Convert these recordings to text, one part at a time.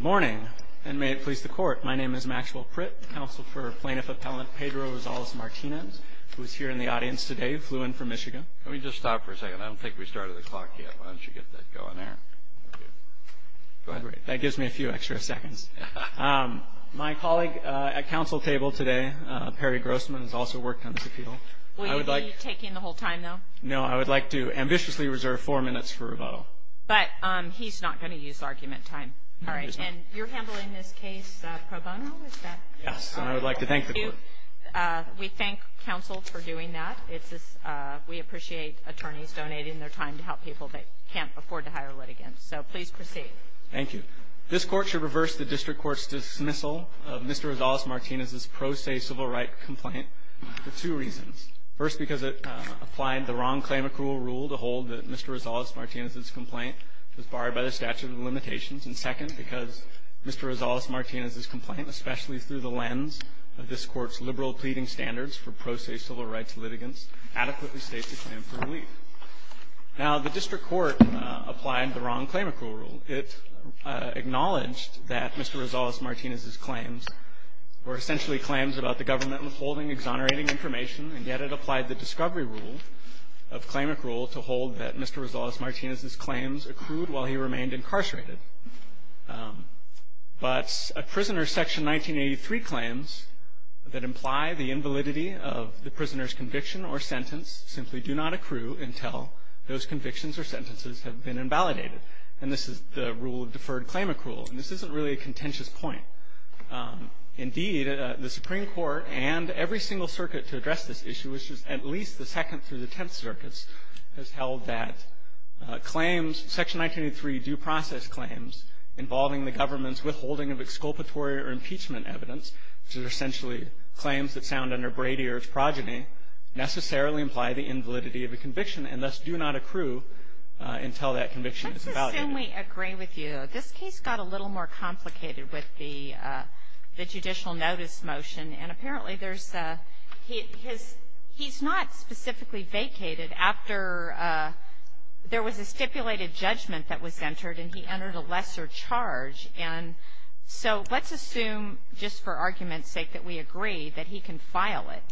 Good morning, and may it please the Court, my name is Maxwell Pritt, Counsel for Plaintiff Appellant Pedro Rosales-Martinez, who is here in the audience today, flew in from Michigan. Let me just stop for a second. I don't think we started the clock yet. Why don't you get that going there? Go ahead. That gives me a few extra seconds. My colleague at counsel table today, Perry Grossman, has also worked on this appeal. Will you be taking the whole time, though? No, I would like to ambitiously reserve four minutes for rebuttal. But he's not going to use argument time. And you're handling this case pro bono? Yes, and I would like to thank the Court. We thank counsel for doing that. We appreciate attorneys donating their time to help people that can't afford to hire litigants. So please proceed. Thank you. This Court should reverse the district court's dismissal of Mr. Rosales-Martinez's pro se civil rights complaint for two reasons. First, because it applied the wrong claim accrual rule to hold that Mr. Rosales-Martinez's complaint was barred by the statute of limitations. And second, because Mr. Rosales-Martinez's complaint, especially through the lens of this Court's liberal pleading standards for pro se civil rights litigants, adequately states a claim for relief. Now, the district court applied the wrong claim accrual rule. It acknowledged that Mr. Rosales-Martinez's claims were essentially claims about the government withholding, exonerating information, and yet it applied the discovery rule of claim accrual to hold that Mr. Rosales-Martinez's claims accrued while he remained incarcerated. But a prisoner's Section 1983 claims that imply the invalidity of the prisoner's conviction or sentence simply do not accrue until those convictions or sentences have been invalidated. And this is the rule of deferred claim accrual. And this isn't really a contentious point. Indeed, the Supreme Court and every single circuit to address this issue, which is at least the Second through the Tenth Circuits, has held that claims, Section 1983 due process claims involving the government's withholding of exculpatory or impeachment evidence, which are essentially claims that sound under Brady or its progeny, necessarily imply the invalidity of a conviction and thus do not accrue until that conviction is evaluated. Sotomayor, I assume we agree with you. This case got a little more complicated with the judicial notice motion. And apparently there's a he's not specifically vacated after there was a stipulated judgment that was entered and he entered a lesser charge. And so let's assume, just for argument's sake, that we agree that he can file it.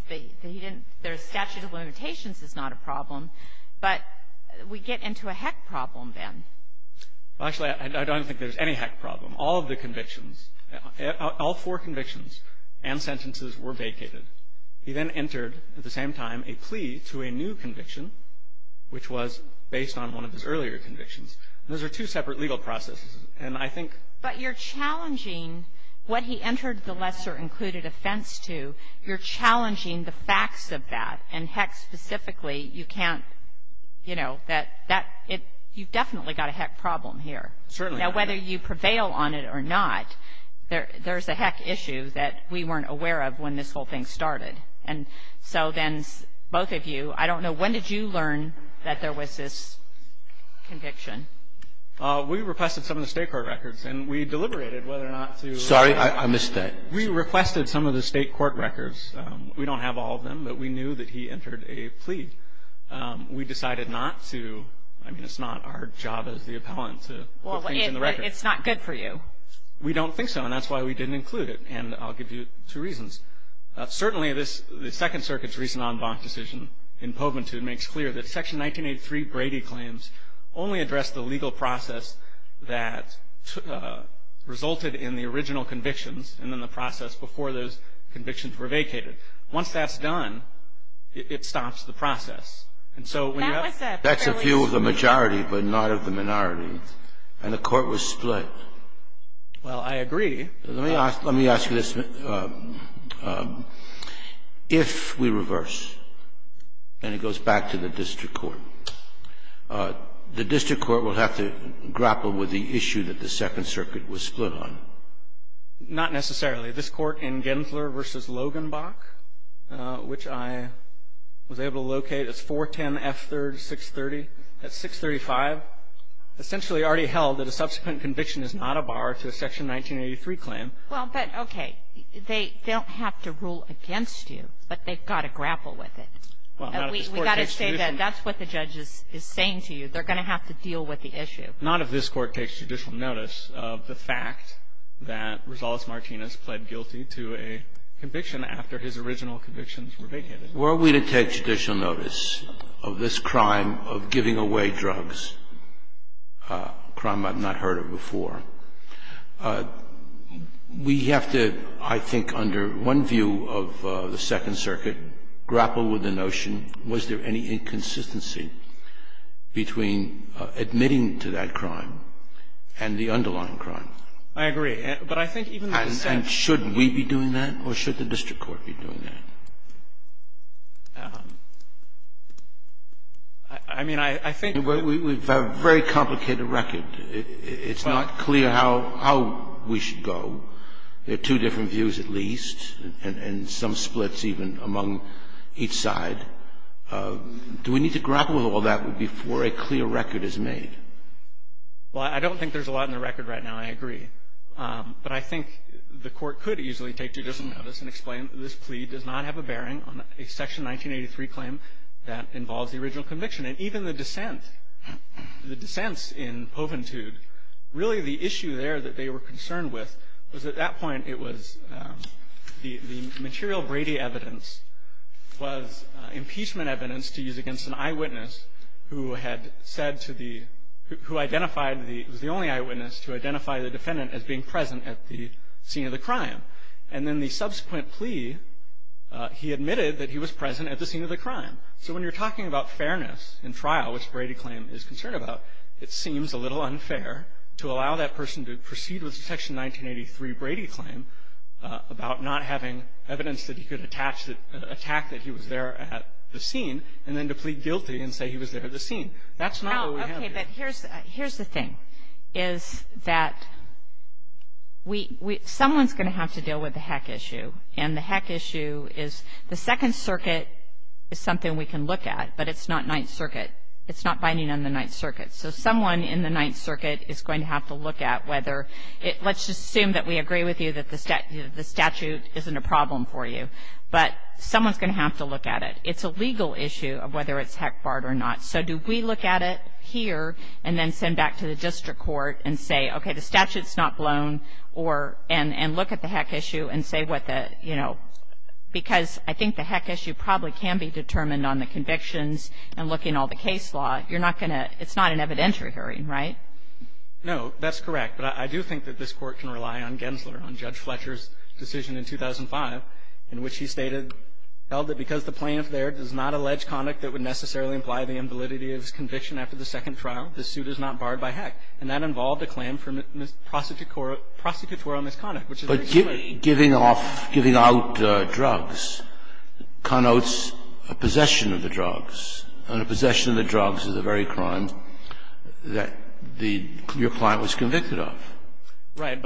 Statute of limitations is not a problem. But we get into a heck problem then. Well, actually, I don't think there's any heck problem. All of the convictions, all four convictions and sentences were vacated. He then entered at the same time a plea to a new conviction, which was based on one of his earlier convictions. Those are two separate legal processes. And I think — But you're challenging what he entered the lesser included offense to. You're challenging the facts of that. And heck, specifically, you can't, you know, that — you've definitely got a heck problem here. Certainly. Now, whether you prevail on it or not, there's a heck issue that we weren't aware of when this whole thing started. And so then both of you, I don't know, when did you learn that there was this conviction? We requested some of the state court records and we deliberated whether or not to — Sorry, I missed that. We requested some of the state court records. We don't have all of them, but we knew that he entered a plea. We decided not to — I mean, it's not our job as the appellant to put things in the records. Well, it's not good for you. We don't think so, and that's why we didn't include it. And I'll give you two reasons. Certainly, the Second Circuit's recent en banc decision in Poventude makes clear that Section 1983 Brady claims only address the legal process that resulted in the original convictions and then the process before those convictions were vacated. Once that's done, it stops the process. And so — That's a view of the majority, but not of the minority. And the court was split. Well, I agree. Let me ask you this. If we reverse, and it goes back to the district court, the district court will have to grapple with the issue that the Second Circuit was split on. Not necessarily. This Court in Gensler v. Loganbach, which I was able to locate, it's 410F3-630. That's 635, essentially already held that a subsequent conviction is not a bar to a Section 1983 claim. Well, but, okay. They don't have to rule against you, but they've got to grapple with it. We've got to say that that's what the judge is saying to you. They're going to have to deal with the issue. Not if this Court takes judicial notice of the fact that Rosales Martinez pled guilty to a conviction after his original convictions were vacated. Where are we to take judicial notice of this crime of giving away drugs? A crime I've not heard of before. We have to, I think, under one view of the Second Circuit, grapple with the notion, was there any inconsistency between admitting to that crime and the underlying crime? I agree. But I think even the defendant should be doing that. And should we be doing that, or should the district court be doing that? I mean, I think we've got a very complicated record. It's not clear how we should go. There are two different views, at least, and some splits even among each side. Do we need to grapple with all that before a clear record is made? Well, I don't think there's a lot in the record right now, I agree. But I think the court could easily take judicial notice and explain that this plea does not have a bearing on a Section 1983 claim that involves the original conviction. And even the dissent, the dissents in Poventude, really the issue there that they were concerned with, was at that point it was the material Brady evidence was impeachment evidence to use against an eyewitness who had said to the, who identified the, it was the only eyewitness to identify the defendant as being present at the scene of the crime. And then the subsequent plea, he admitted that he was present at the scene of the crime. So when you're talking about fairness in trial, which Brady claim is concerned about, it seems a little unfair to allow that person to proceed with the Section 1983 Brady claim about not having evidence that he could attach, attack that he was there at the scene, and then to plead guilty and say he was there at the scene. That's not what we have here. No. Okay. But here's the thing, is that we, we, someone's going to have to deal with the heck issue. And the heck issue is the Second Circuit is something we can look at, but it's not Ninth Circuit. It's not binding on the Ninth Circuit. So someone in the Ninth Circuit is going to have to look at whether it, let's just assume that we agree with you that the statute isn't a problem for you. But someone's going to have to look at it. It's a legal issue of whether it's heck barred or not. So do we look at it here and then send back to the district court and say, okay, the statute's not blown, or, and look at the heck issue and say what the, you know, because I think the heck issue probably can be determined on the convictions and looking at all the case law. You're not going to, it's not an evidentiary hearing, right? No, that's correct. But I do think that this Court can rely on Gensler, on Judge Fletcher's decision in 2005 in which he stated, held that because the plaintiff there does not allege conduct that would necessarily imply the invalidity of his conviction after the second trial, the suit is not barred by heck. And that involved a claim for prosecutorial misconduct, which is very clear. But giving off, giving out drugs connotes a possession of the drugs. And a possession of the drugs is a very crime that the, your client was convicted of. Right.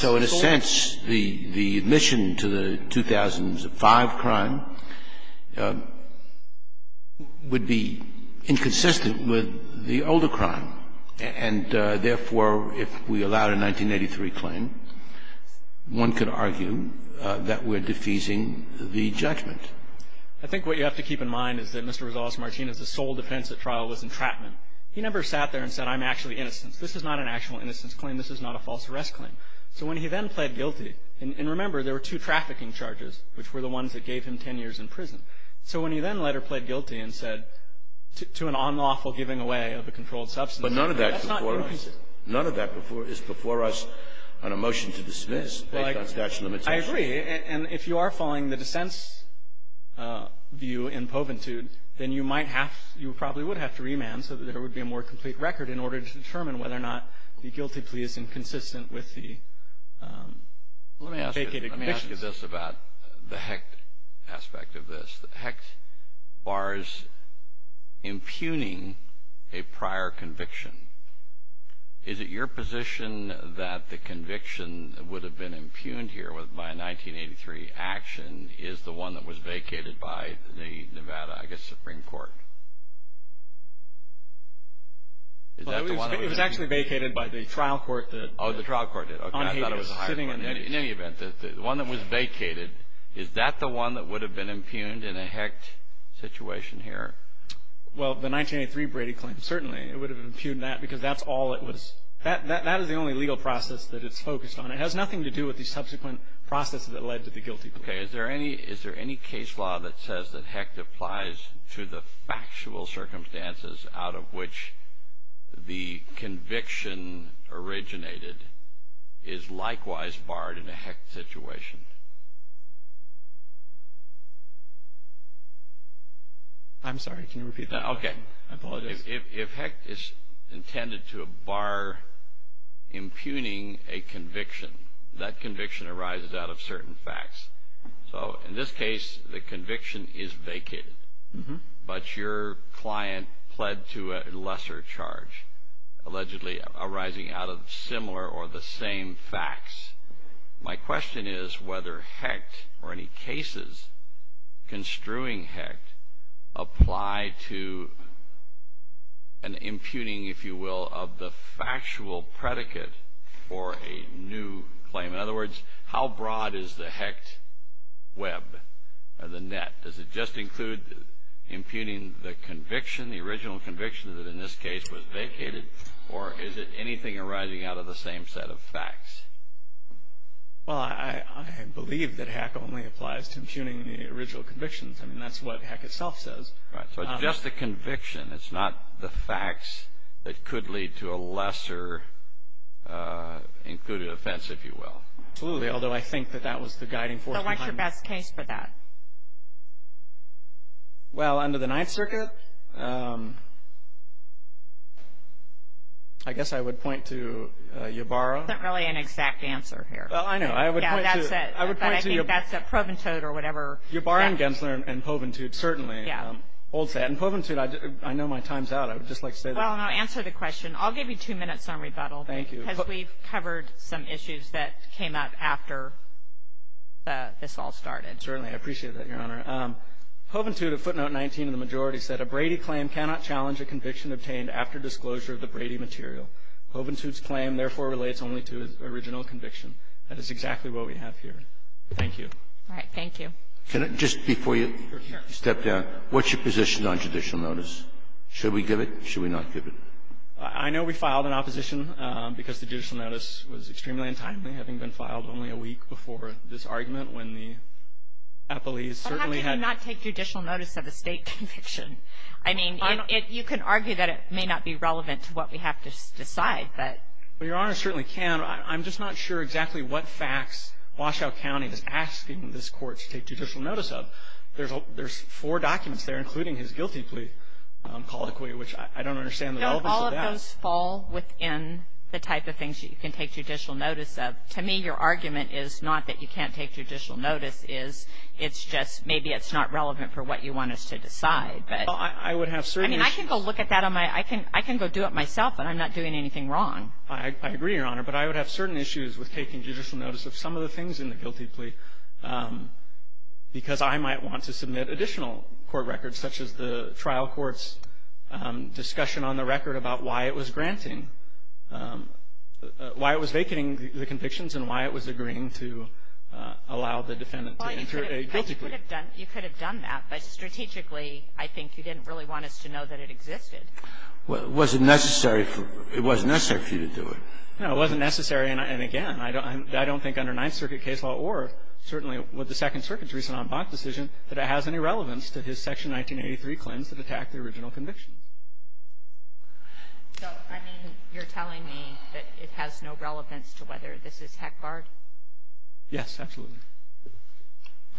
So in a sense, the admission to the 2005 crime would be inconsistent with the older crime. And therefore, if we allowed a 1983 claim, one could argue that we're defeasing the judgment. I think what you have to keep in mind is that Mr. Rosales-Martinez's sole defense at trial was entrapment. He never sat there and said, I'm actually innocent. This is not an actual innocence claim. This is not a false arrest claim. So when he then pled guilty, and remember, there were two trafficking charges, which were the ones that gave him ten years in prison. So when he then later pled guilty and said, to an unlawful giving away of a controlled substance, that's not innocence. None of that is before us on a motion to dismiss based on statute of limitations. I agree. And if you are following the dissent's view in poventude, then you might have, you probably would have to remand so that there would be a more complete record in order to determine whether or not the guilty plea is inconsistent with the vacated convictions. Let me ask you this about the HECT aspect of this. The HECT bars impugning a prior conviction. Is it your position that the conviction that would have been impugned here by a 1983 action is the one that was vacated by the Nevada, I guess, Supreme Court? It was actually vacated by the trial court. Oh, the trial court did. Okay. I thought it was a higher court. In any event, the one that was vacated, is that the one that would have been impugned in a HECT situation here? Well, the 1983 Brady claim, certainly. It would have impugned that because that's all it was. That is the only legal process that it's focused on. It has nothing to do with the subsequent process that led to the guilty plea. Okay. Is there any case law that says that HECT applies to the factual circumstances out of which the conviction originated is likewise barred in a HECT situation? I'm sorry, can you repeat that? Okay. I apologize. If HECT is intended to bar impugning a conviction, that conviction arises out of certain facts. So in this case, the conviction is vacated, but your client pled to a lesser charge allegedly arising out of similar or the same facts. My question is whether HECT or any cases construing HECT apply to an impugning, if you will, of the factual predicate for a new claim. In other words, how broad is the HECT web or the net? Does it just include impugning the conviction, the original conviction that in this case was vacated, or is it anything arising out of the same set of facts? Well, I believe that HECT only applies to impugning the original convictions. I mean, that's what HECT itself says. Right. So it's just the conviction. It's not the facts that could lead to a lesser included offense, if you will. Absolutely, although I think that that was the guiding force behind it. So what's your best case for that? Well, under the Ninth Circuit, I guess I would point to Ybarra. There isn't really an exact answer here. Well, I know. I would point to Ybarra and Gensler and Poventute, certainly. Yeah. And Poventute, I know my time's out. I would just like to say that. Well, and I'll answer the question. I'll give you two minutes on rebuttal. Thank you. Because we've covered some issues that came up after this all started. Certainly. I appreciate that, Your Honor. Poventute of footnote 19 of the majority said, a Brady claim cannot challenge a conviction obtained after disclosure of the Brady material. Poventute's claim, therefore, relates only to his original conviction. That is exactly what we have here. Thank you. All right. Thank you. Can I just, before you step down, what's your position on judicial notice? Should we give it? Should we not give it? I know we filed an opposition because the judicial notice was extremely untimely, having been filed only a week before this argument, when the appellees certainly had to do not take judicial notice of a State conviction. I mean, you can argue that it may not be relevant to what we have to decide, but Your Honor certainly can. I'm just not sure exactly what facts Washoe County is asking this Court to take judicial notice of. There's four documents there, including his guilty plea colloquy, which I don't understand the relevance of that. All of those fall within the type of things that you can take judicial notice of. To me, your argument is not that you can't take judicial notice. It's just maybe it's not relevant for what you want us to decide. I would have certain issues. I mean, I can go look at that on my own. I can go do it myself, and I'm not doing anything wrong. I agree, Your Honor. But I would have certain issues with taking judicial notice of some of the things in the guilty plea because I might want to submit additional court records, such as the trial court's discussion on the record about why it was granting why it was vacating the convictions and why it was agreeing to allow the defendant to enter a guilty plea. Well, you could have done that, but strategically I think you didn't really want us to know that it existed. Well, it wasn't necessary for you to do it. No, it wasn't necessary. And, again, I don't think under Ninth Circuit case law or certainly with the Second Circuit's recent en banc decision that it has any relevance to his Section 1983 claims that attack the original conviction. So, I mean, you're telling me that it has no relevance to whether this is heck-barred? Yes, absolutely.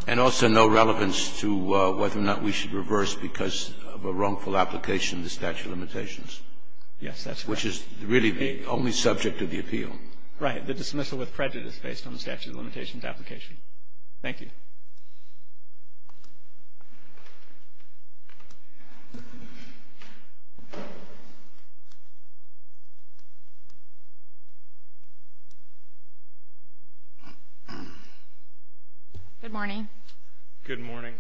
And also no relevance to whether or not we should reverse because of a wrongful application of the statute of limitations. Yes, that's correct. Which is really the only subject of the appeal. Right. The dismissal with prejudice based on the statute of limitations application. Thank you. Good morning. Good morning.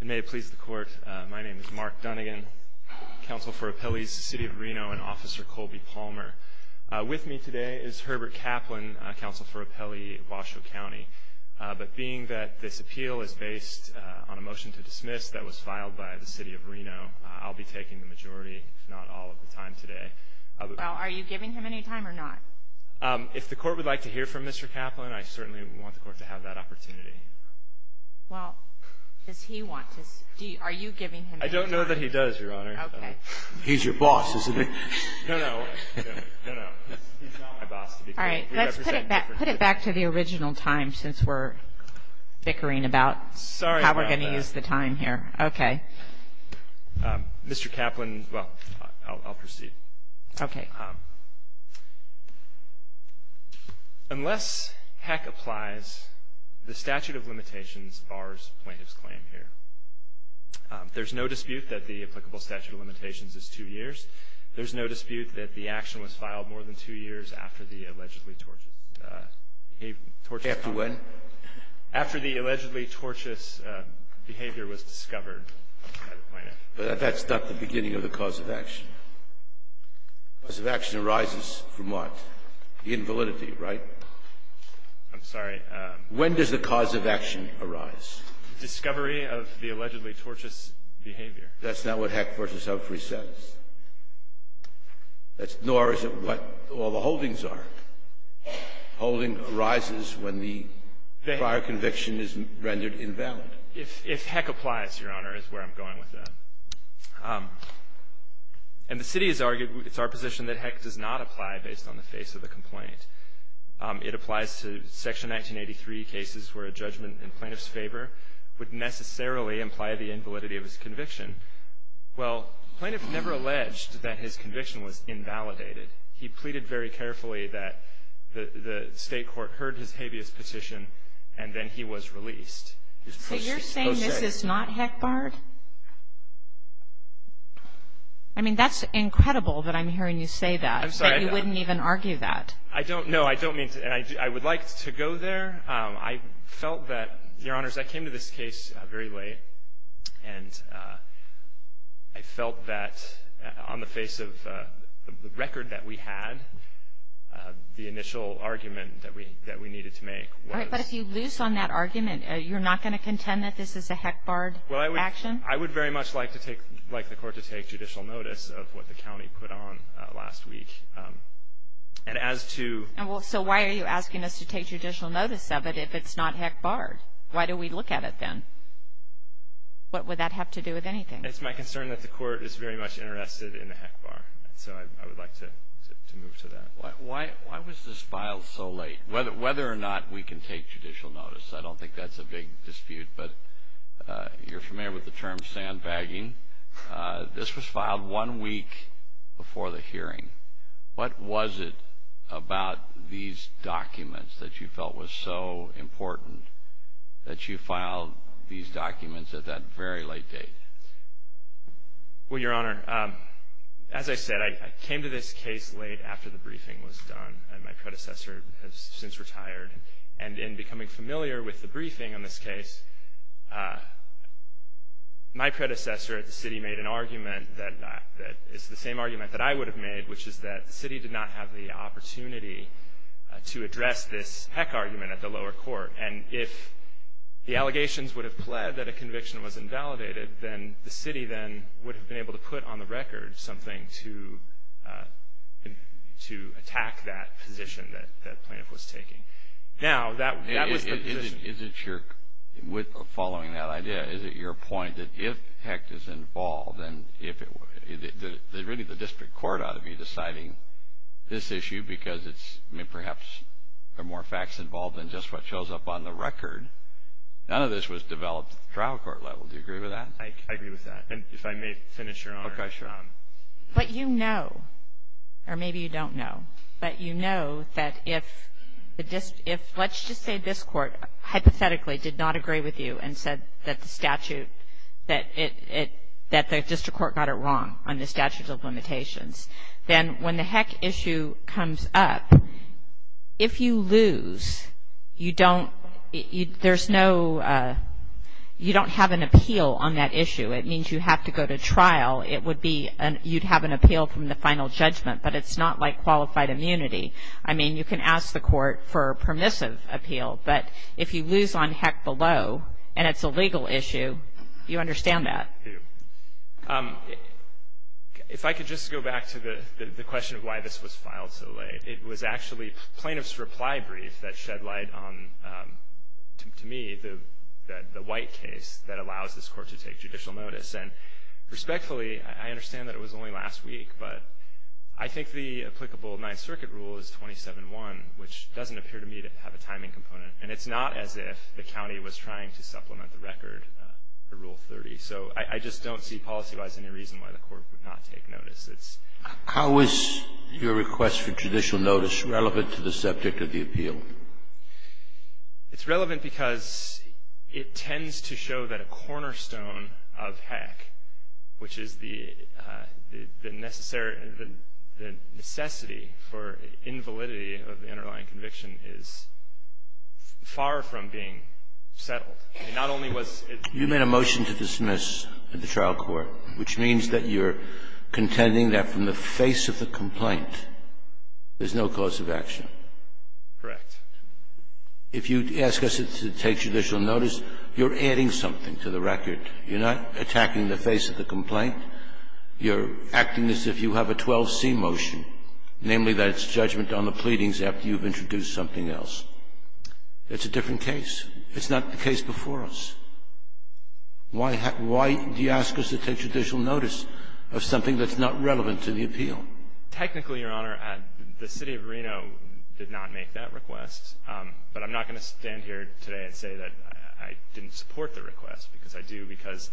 And may it please the Court, my name is Mark Dunnigan, Counsel for Appellees, City of Reno, and Officer Colby Palmer. With me today is Herbert Kaplan, Counsel for Appellee, Washoe County. But being that this appeal is based on a motion to dismiss that was filed by the City of Reno, I'll be taking the majority, if not all, of the time today. Well, are you giving him any time or not? If the Court would like to hear from Mr. Kaplan, I certainly want the Court to have that opportunity. Well, does he want to? Are you giving him any time? I don't know that he does, Your Honor. Okay. He's your boss, isn't he? No, no. No, no. He's not my boss. All right, let's put it back to the original time since we're bickering about how we're going to use the time here. Okay. Mr. Kaplan, well, I'll proceed. Okay. Unless heck applies, the statute of limitations bars plaintiff's claim here. There's no dispute that the applicable statute of limitations is two years. There's no dispute that the action was filed more than two years after the allegedly tortious behavior. After when? After the allegedly tortious behavior was discovered by the plaintiff. That's not the beginning of the cause of action. The cause of action arises from what? The invalidity, right? I'm sorry. When does the cause of action arise? Discovery of the allegedly tortious behavior. That's not what heck versus Humphrey says. Nor is it what all the holdings are. Holding arises when the prior conviction is rendered invalid. If heck applies, Your Honor, is where I'm going with that. And the city has argued, it's our position, that heck does not apply based on the face of the complaint. It applies to Section 1983 cases where a judgment in plaintiff's favor would necessarily imply the invalidity of his conviction. Well, the plaintiff never alleged that his conviction was invalidated. He pleaded very carefully that the state court heard his habeas petition, and then he was released. So you're saying this is not heck barred? I mean, that's incredible that I'm hearing you say that. I'm sorry. That you wouldn't even argue that. No, I don't mean to. And I would like to go there. I felt that, Your Honors, I came to this case very late, and I felt that on the face of the record that we had, the initial argument that we needed to make was. But if you lose on that argument, you're not going to contend that this is a heck barred action? Well, I would very much like the court to take judicial notice of what the county put on last week. And as to. So why are you asking us to take judicial notice of it if it's not heck barred? Why do we look at it then? What would that have to do with anything? It's my concern that the court is very much interested in the heck bar. So I would like to move to that. Why was this filed so late? Whether or not we can take judicial notice, I don't think that's a big dispute, but you're familiar with the term sandbagging. This was filed one week before the hearing. What was it about these documents that you felt was so important that you filed these documents at that very late date? Well, Your Honor, as I said, I came to this case late after the briefing was done, and my predecessor has since retired. And in becoming familiar with the briefing on this case, my predecessor at the city made an argument that is the same argument that I would have made, which is that the city did not have the opportunity to address this heck argument at the lower court. And if the allegations would have pled that a conviction was invalidated, then the city then would have been able to put on the record something to attack that position that plaintiff was taking. Now, that was the position. Is it your, following that idea, is it your point that if heck is involved, and really the district court ought to be deciding this issue because it's perhaps there are more facts involved than just what shows up on the record. None of this was developed at the trial court level. Do you agree with that? I agree with that. And if I may finish, Your Honor. Okay, sure. But you know, or maybe you don't know, but you know that if let's just say this court hypothetically did not agree with you and said that the statute, that the district court got it wrong on the statute of limitations, then when the heck issue comes up, if you lose, you don't, there's no, you don't have an appeal on that issue. It means you have to go to trial. It would be, you'd have an appeal from the final judgment. But it's not like qualified immunity. I mean, you can ask the court for a permissive appeal. But if you lose on heck below and it's a legal issue, do you understand that? I do. If I could just go back to the question of why this was filed so late, it was actually plaintiff's reply brief that shed light on, to me, the white case that allows this court to take judicial notice. And respectfully, I understand that it was only last week, but I think the applicable Ninth Circuit rule is 27-1, which doesn't appear to me to have a timing component. And it's not as if the county was trying to supplement the record, the Rule 30. So I just don't see policy-wise any reason why the court would not take notice. It's ‑‑ How is your request for judicial notice relevant to the subject of the appeal? It's relevant because it tends to show that a cornerstone of heck, which is the necessity for invalidity of the underlying conviction, is far from being settled. And not only was it ‑‑ You made a motion to dismiss at the trial court, which means that you're contending that from the face of the complaint, there's no cause of action. Correct. If you ask us to take judicial notice, you're adding something to the record. You're not attacking the face of the complaint. You're acting as if you have a 12C motion, namely that it's judgment on the pleadings after you've introduced something else. It's a different case. It's not the case before us. Why do you ask us to take judicial notice of something that's not relevant to the appeal? Technically, Your Honor, the city of Reno did not make that request. But I'm not going to stand here today and say that I didn't support the request, because I do, because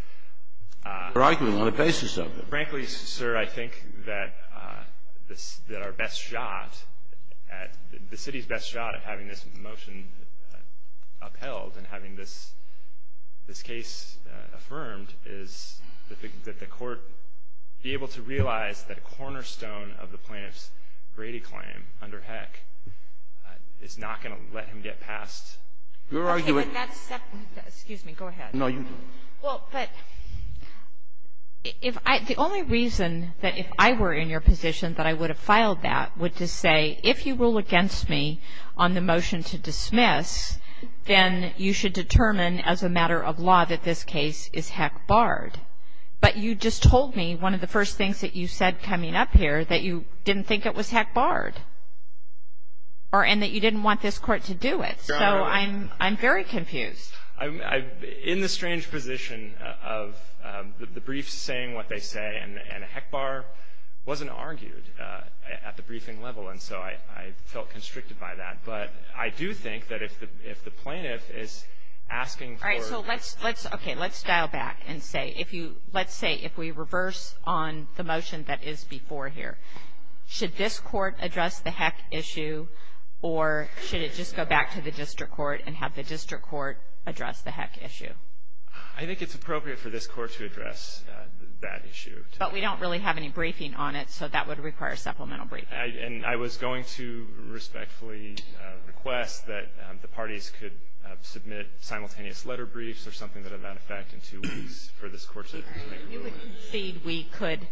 ‑‑ You're arguing on the basis of it. Frankly, sir, I think that our best shot at ‑‑ And having this case affirmed is that the court be able to realize that a cornerstone of the plaintiff's Brady claim under HEC is not going to let him get past ‑‑ You're arguing ‑‑ Okay. Excuse me. Go ahead. No, you ‑‑ Well, but if I ‑‑ The only reason that if I were in your position that I would have filed that would to say, if you rule against me on the motion to dismiss, then you should determine as a matter of law that this case is HEC‑barred. But you just told me one of the first things that you said coming up here, that you didn't think it was HEC‑barred, and that you didn't want this court to do it. So I'm very confused. In the strange position of the briefs saying what they say, and HEC‑bar wasn't argued at the briefing level, and so I felt constricted by that. But I do think that if the plaintiff is asking for ‑‑ All right, so let's dial back and say, let's say if we reverse on the motion that is before here, should this court address the HEC issue, or should it just go back to the district court and have the district court address the HEC issue? I think it's appropriate for this court to address that issue. But we don't really have any briefing on it, so that would require supplemental briefing. And I was going to respectfully request that the parties could submit simultaneous letter briefs or something to that effect in two weeks for this court to make a ruling. You would concede we could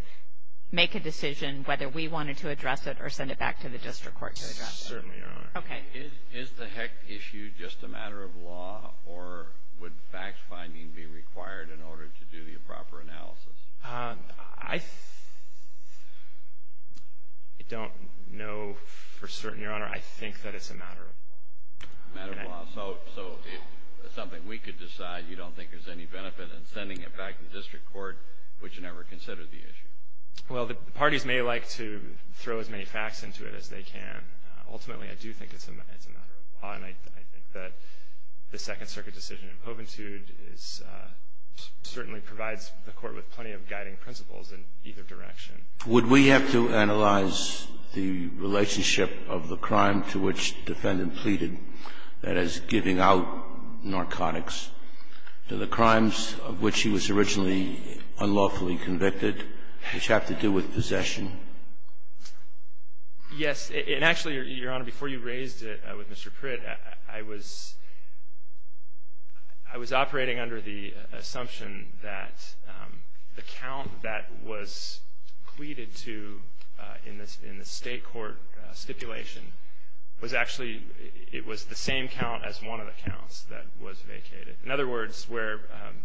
make a decision whether we wanted to address it or send it back to the district court to address it? We certainly are. Okay. Is the HEC issue just a matter of law, or would fact finding be required in order to do the proper analysis? I don't know for certain, Your Honor. I think that it's a matter of law. A matter of law. So something we could decide you don't think is any benefit in sending it back to the district court, would you never consider the issue? Well, the parties may like to throw as many facts into it as they can. Ultimately, I do think it's a matter of law, and I think that the Second Circuit decision in Poventude certainly provides the Court with plenty of guiding principles in either direction. Would we have to analyze the relationship of the crime to which the defendant pleaded, that is, giving out narcotics, to the crimes of which he was originally unlawfully convicted, which have to do with possession? Yes. And actually, Your Honor, before you raised it with Mr. Pritt, I was operating under the assumption that the count that was pleaded to in the state court stipulation was actually, it was the same count as one of the counts that was vacated. In other words, where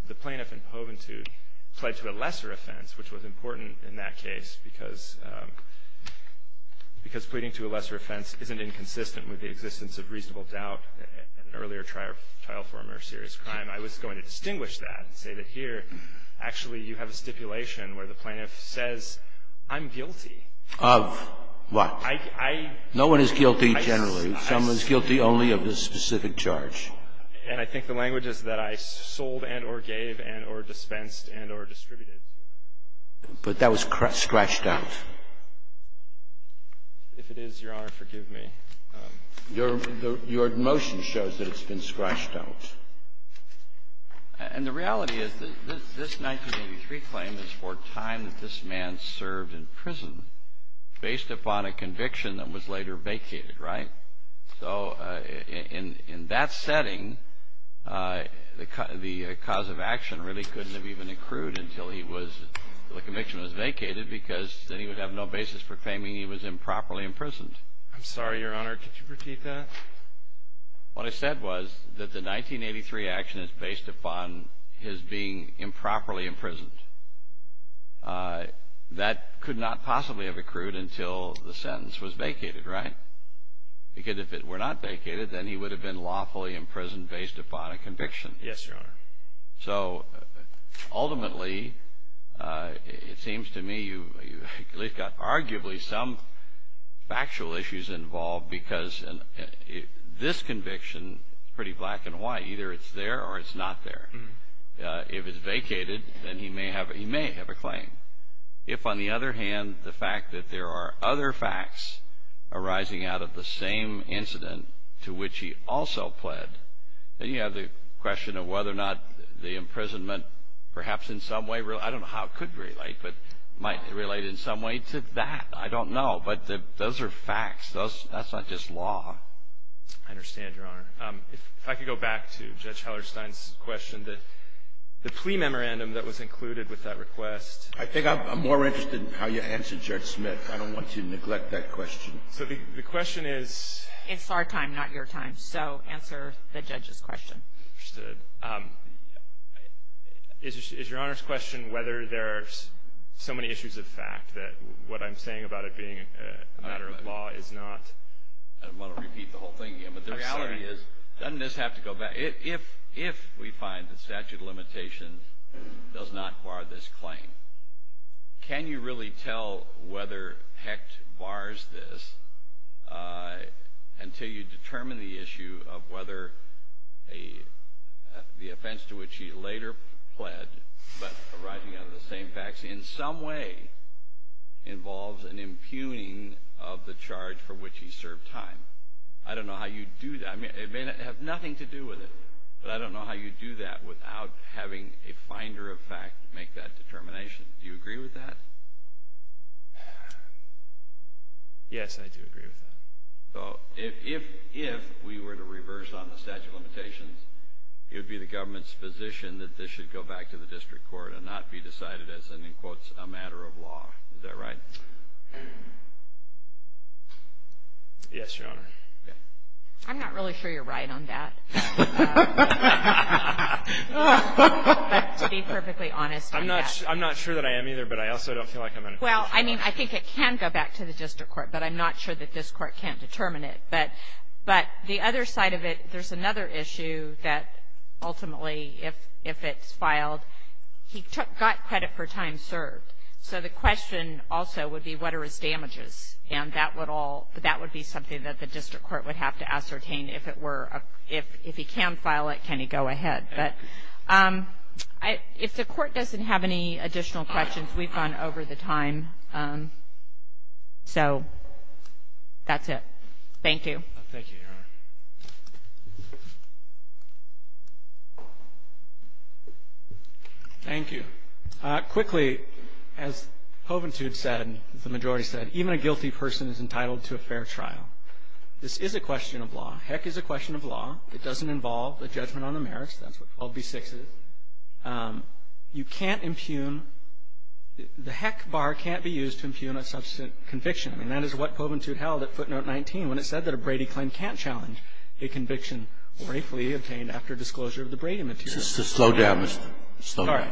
the plaintiff in Poventude pled to a lesser offense, which was important in that case because pleading to a lesser offense isn't inconsistent with the existence of reasonable doubt, an earlier trial for a more serious crime, I was going to distinguish that and say that here, actually you have a stipulation where the plaintiff says, I'm guilty. Of what? I. No one is guilty generally. Someone is guilty only of this specific charge. And I think the language is that I sold and or gave and or dispensed and or distributed But that was scratched out. If it is, Your Honor, forgive me. Your motion shows that it's been scratched out. And the reality is that this 1983 claim is for time that this man served in prison based upon a conviction that was later vacated, right? So in that setting, the cause of action really couldn't have even accrued until the conviction was vacated because then he would have no basis for claiming he was improperly imprisoned. I'm sorry, Your Honor. Could you repeat that? What I said was that the 1983 action is based upon his being improperly imprisoned. That could not possibly have accrued until the sentence was vacated, right? Because if it were not vacated, then he would have been lawfully imprisoned based upon a conviction. Yes, Your Honor. So ultimately, it seems to me you've got arguably some factual issues involved because this conviction is pretty black and white. Either it's there or it's not there. If it's vacated, then he may have a claim. If, on the other hand, the fact that there are other facts arising out of the same incident to which he also pled, then you have the question of whether or not the imprisonment perhaps in some way, I don't know how it could relate, but might relate in some way to that. I don't know. But those are facts. That's not just law. I understand, Your Honor. If I could go back to Judge Hellerstein's question, the plea memorandum that was included with that request I think I'm more interested in how you answered, Judge Smith. I don't want you to neglect that question. So the question is It's our time, not your time. So answer the judge's question. Understood. Is Your Honor's question whether there are so many issues of fact that what I'm saying about it being a matter of law is not I don't want to repeat the whole thing again, but the reality is I'm sorry. Can you really tell whether Hecht bars this until you determine the issue of whether the offense to which he later pled, but arising out of the same facts in some way, involves an impugning of the charge for which he served time? I don't know how you do that. It may have nothing to do with it, but I don't know how you do that without having a finder of fact make that determination. Do you agree with that? Yes, I do agree with that. So if we were to reverse on the statute of limitations, it would be the government's position that this should go back to the district court and not be decided as, in quotes, a matter of law. Is that right? Yes, Your Honor. I'm not really sure you're right on that. But to be perfectly honest, I'm not. I'm not sure that I am either, but I also don't feel like I'm in a position. Well, I mean, I think it can go back to the district court, but I'm not sure that this court can't determine it. But the other side of it, there's another issue that ultimately, if it's filed, he got credit for time served. So the question also would be what are his damages? And that would be something that the district court would have to ascertain. If he can file it, can he go ahead? But if the court doesn't have any additional questions, we've gone over the time. So that's it. Thank you. Thank you, Your Honor. Thank you. Quickly, as Poventude said, the majority said, even a guilty person is entitled to a fair trial. This is a question of law. Heck, it's a question of law. It doesn't involve a judgment on the merits. That's what 12b-6 is. You can't impugn. The heck bar can't be used to impugn a subsequent conviction. And that is what Poventude held at footnote 19 when it said that a Brady claim can't challenge a conviction briefly obtained after disclosure of the Brady material. I'm sorry.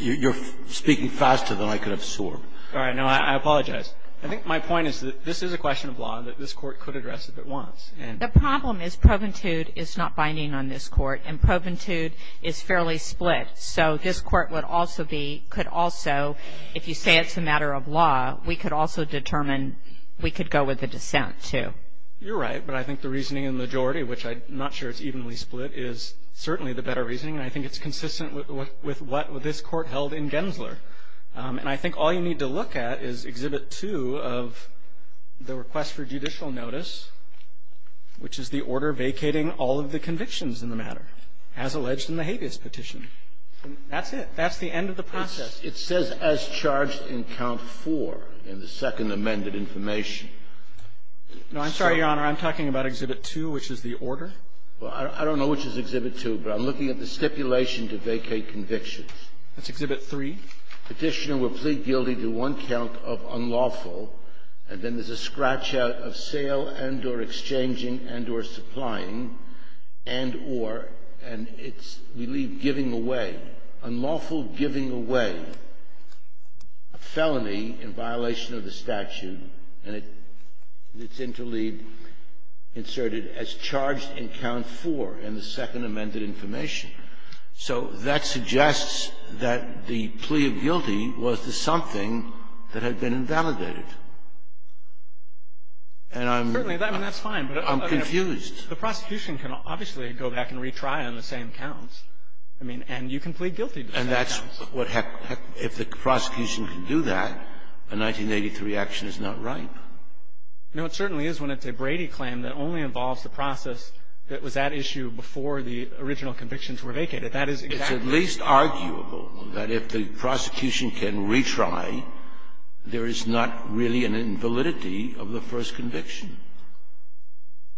You're speaking faster than I could have sworn. All right. No, I apologize. I think my point is that this is a question of law that this Court could address if it wants. The problem is Poventude is not binding on this Court. And Poventude is fairly split. So this Court would also be, could also, if you say it's a matter of law, we could also determine we could go with a dissent, too. You're right. But I think the reasoning in the majority, which I'm not sure it's evenly split, is certainly the better reasoning. And I think it's consistent with what this Court held in Gensler. And I think all you need to look at is Exhibit 2 of the request for judicial notice, which is the order vacating all of the convictions in the matter, as alleged in the habeas petition. That's it. That's the end of the process. It says as charged in Count 4 in the second amended information. No, I'm sorry, Your Honor. I'm talking about Exhibit 2, which is the order. Well, I don't know which is Exhibit 2, but I'm looking at the stipulation to vacate convictions. That's Exhibit 3. Petitioner will plead guilty to one count of unlawful, and then there's a scratch out of sale and or exchanging and or supplying and or, and it's, we leave giving away, unlawful giving away a felony in violation of the statute, and it's interleaved and inserted as charged in Count 4 in the second amended information. So that suggests that the plea of guilty was to something that had been invalidated. And I'm confused. The prosecution can obviously go back and retry on the same counts. I mean, and you can plead guilty to the same counts. And that's what happens. If the prosecution can do that, a 1983 action is not right. No, it certainly is when it's a Brady claim that only involves the process that was at issue before the original convictions were vacated. That is exactly right. It's at least arguable that if the prosecution can retry, there is not really an invalidity of the first conviction.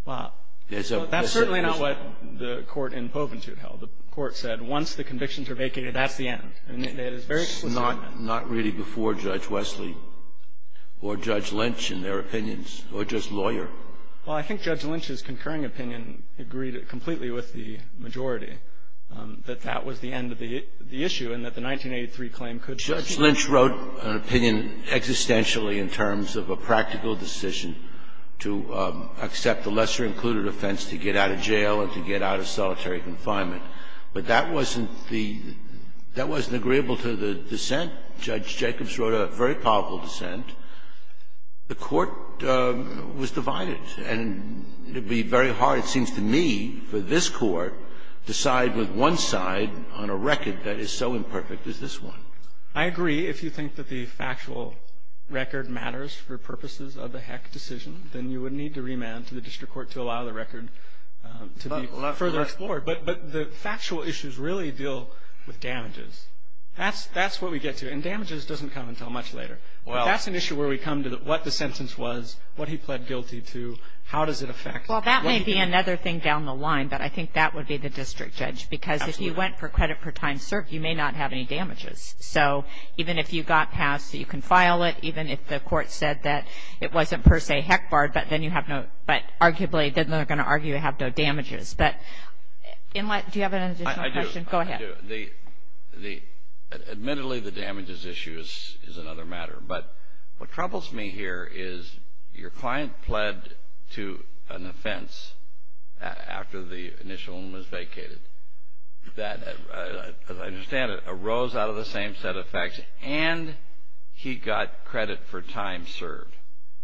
Well, that's certainly not what the Court in Poventute held. The Court said once the convictions are vacated, that's the end. And it is very explicit in that. But that was not really before Judge Wesley or Judge Lynch, in their opinions, or just lawyer. Well, I think Judge Lynch's concurring opinion agreed completely with the majority, that that was the end of the issue and that the 1983 claim could proceed. Judge Lynch wrote an opinion existentially in terms of a practical decision to accept the lesser-included offense to get out of jail and to get out of solitary confinement. But that wasn't the – that wasn't agreeable to the dissent. Judge Jacobs wrote a very powerful dissent. The Court was divided. And it would be very hard, it seems to me, for this Court to side with one side on a record that is so imperfect as this one. I agree. If you think that the factual record matters for purposes of the Heck decision, then you would need to remand to the district court to allow the record to be further explored. But the factual issues really deal with damages. That's what we get to. And damages doesn't come until much later. But that's an issue where we come to what the sentence was, what he pled guilty to, how does it affect – Well, that may be another thing down the line. But I think that would be the district judge. Absolutely. Because if you went for credit per time served, you may not have any damages. So even if you got passed, you can file it. Even if the Court said that it wasn't per se Heck barred, but then you have no – Inlet, do you have an additional question? I do. Go ahead. I do. Admittedly, the damages issue is another matter. But what troubles me here is your client pled to an offense after the initial one was vacated that, as I understand it, arose out of the same set of facts and he got credit per time served.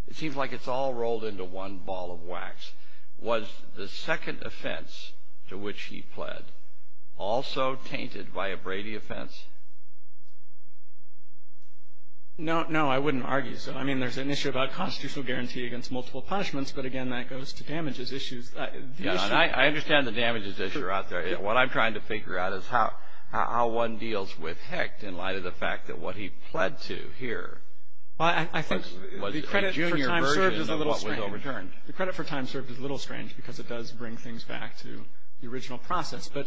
It seems like it's all rolled into one ball of wax. Was the second offense to which he pled also tainted by a Brady offense? No, I wouldn't argue so. I mean, there's an issue about constitutional guarantee against multiple punishments. But, again, that goes to damages issues. I understand the damages issue out there. What I'm trying to figure out is how one deals with Hecht in light of the fact that what he pled to here – Well, I think the credit per time served is a little strange. The credit per time served is a little strange because it does bring things back to the original process. But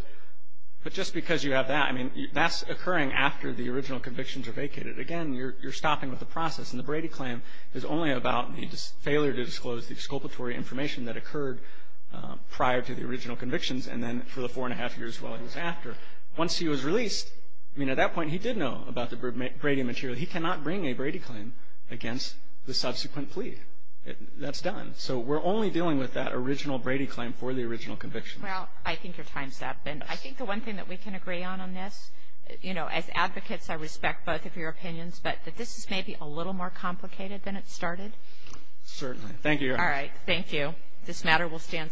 just because you have that, I mean, that's occurring after the original convictions are vacated. Again, you're stopping with the process. And the Brady claim is only about the failure to disclose the exculpatory information that occurred prior to the original convictions and then for the four and a half years while he was after. Once he was released, I mean, at that point he did know about the Brady material. But he cannot bring a Brady claim against the subsequent plea. That's done. So we're only dealing with that original Brady claim for the original convictions. Well, I think your time's up. And I think the one thing that we can agree on on this, you know, as advocates I respect both of your opinions. But this is maybe a little more complicated than it started. Certainly. Thank you, Your Honor. All right. Thank you. This matter will stand submitted.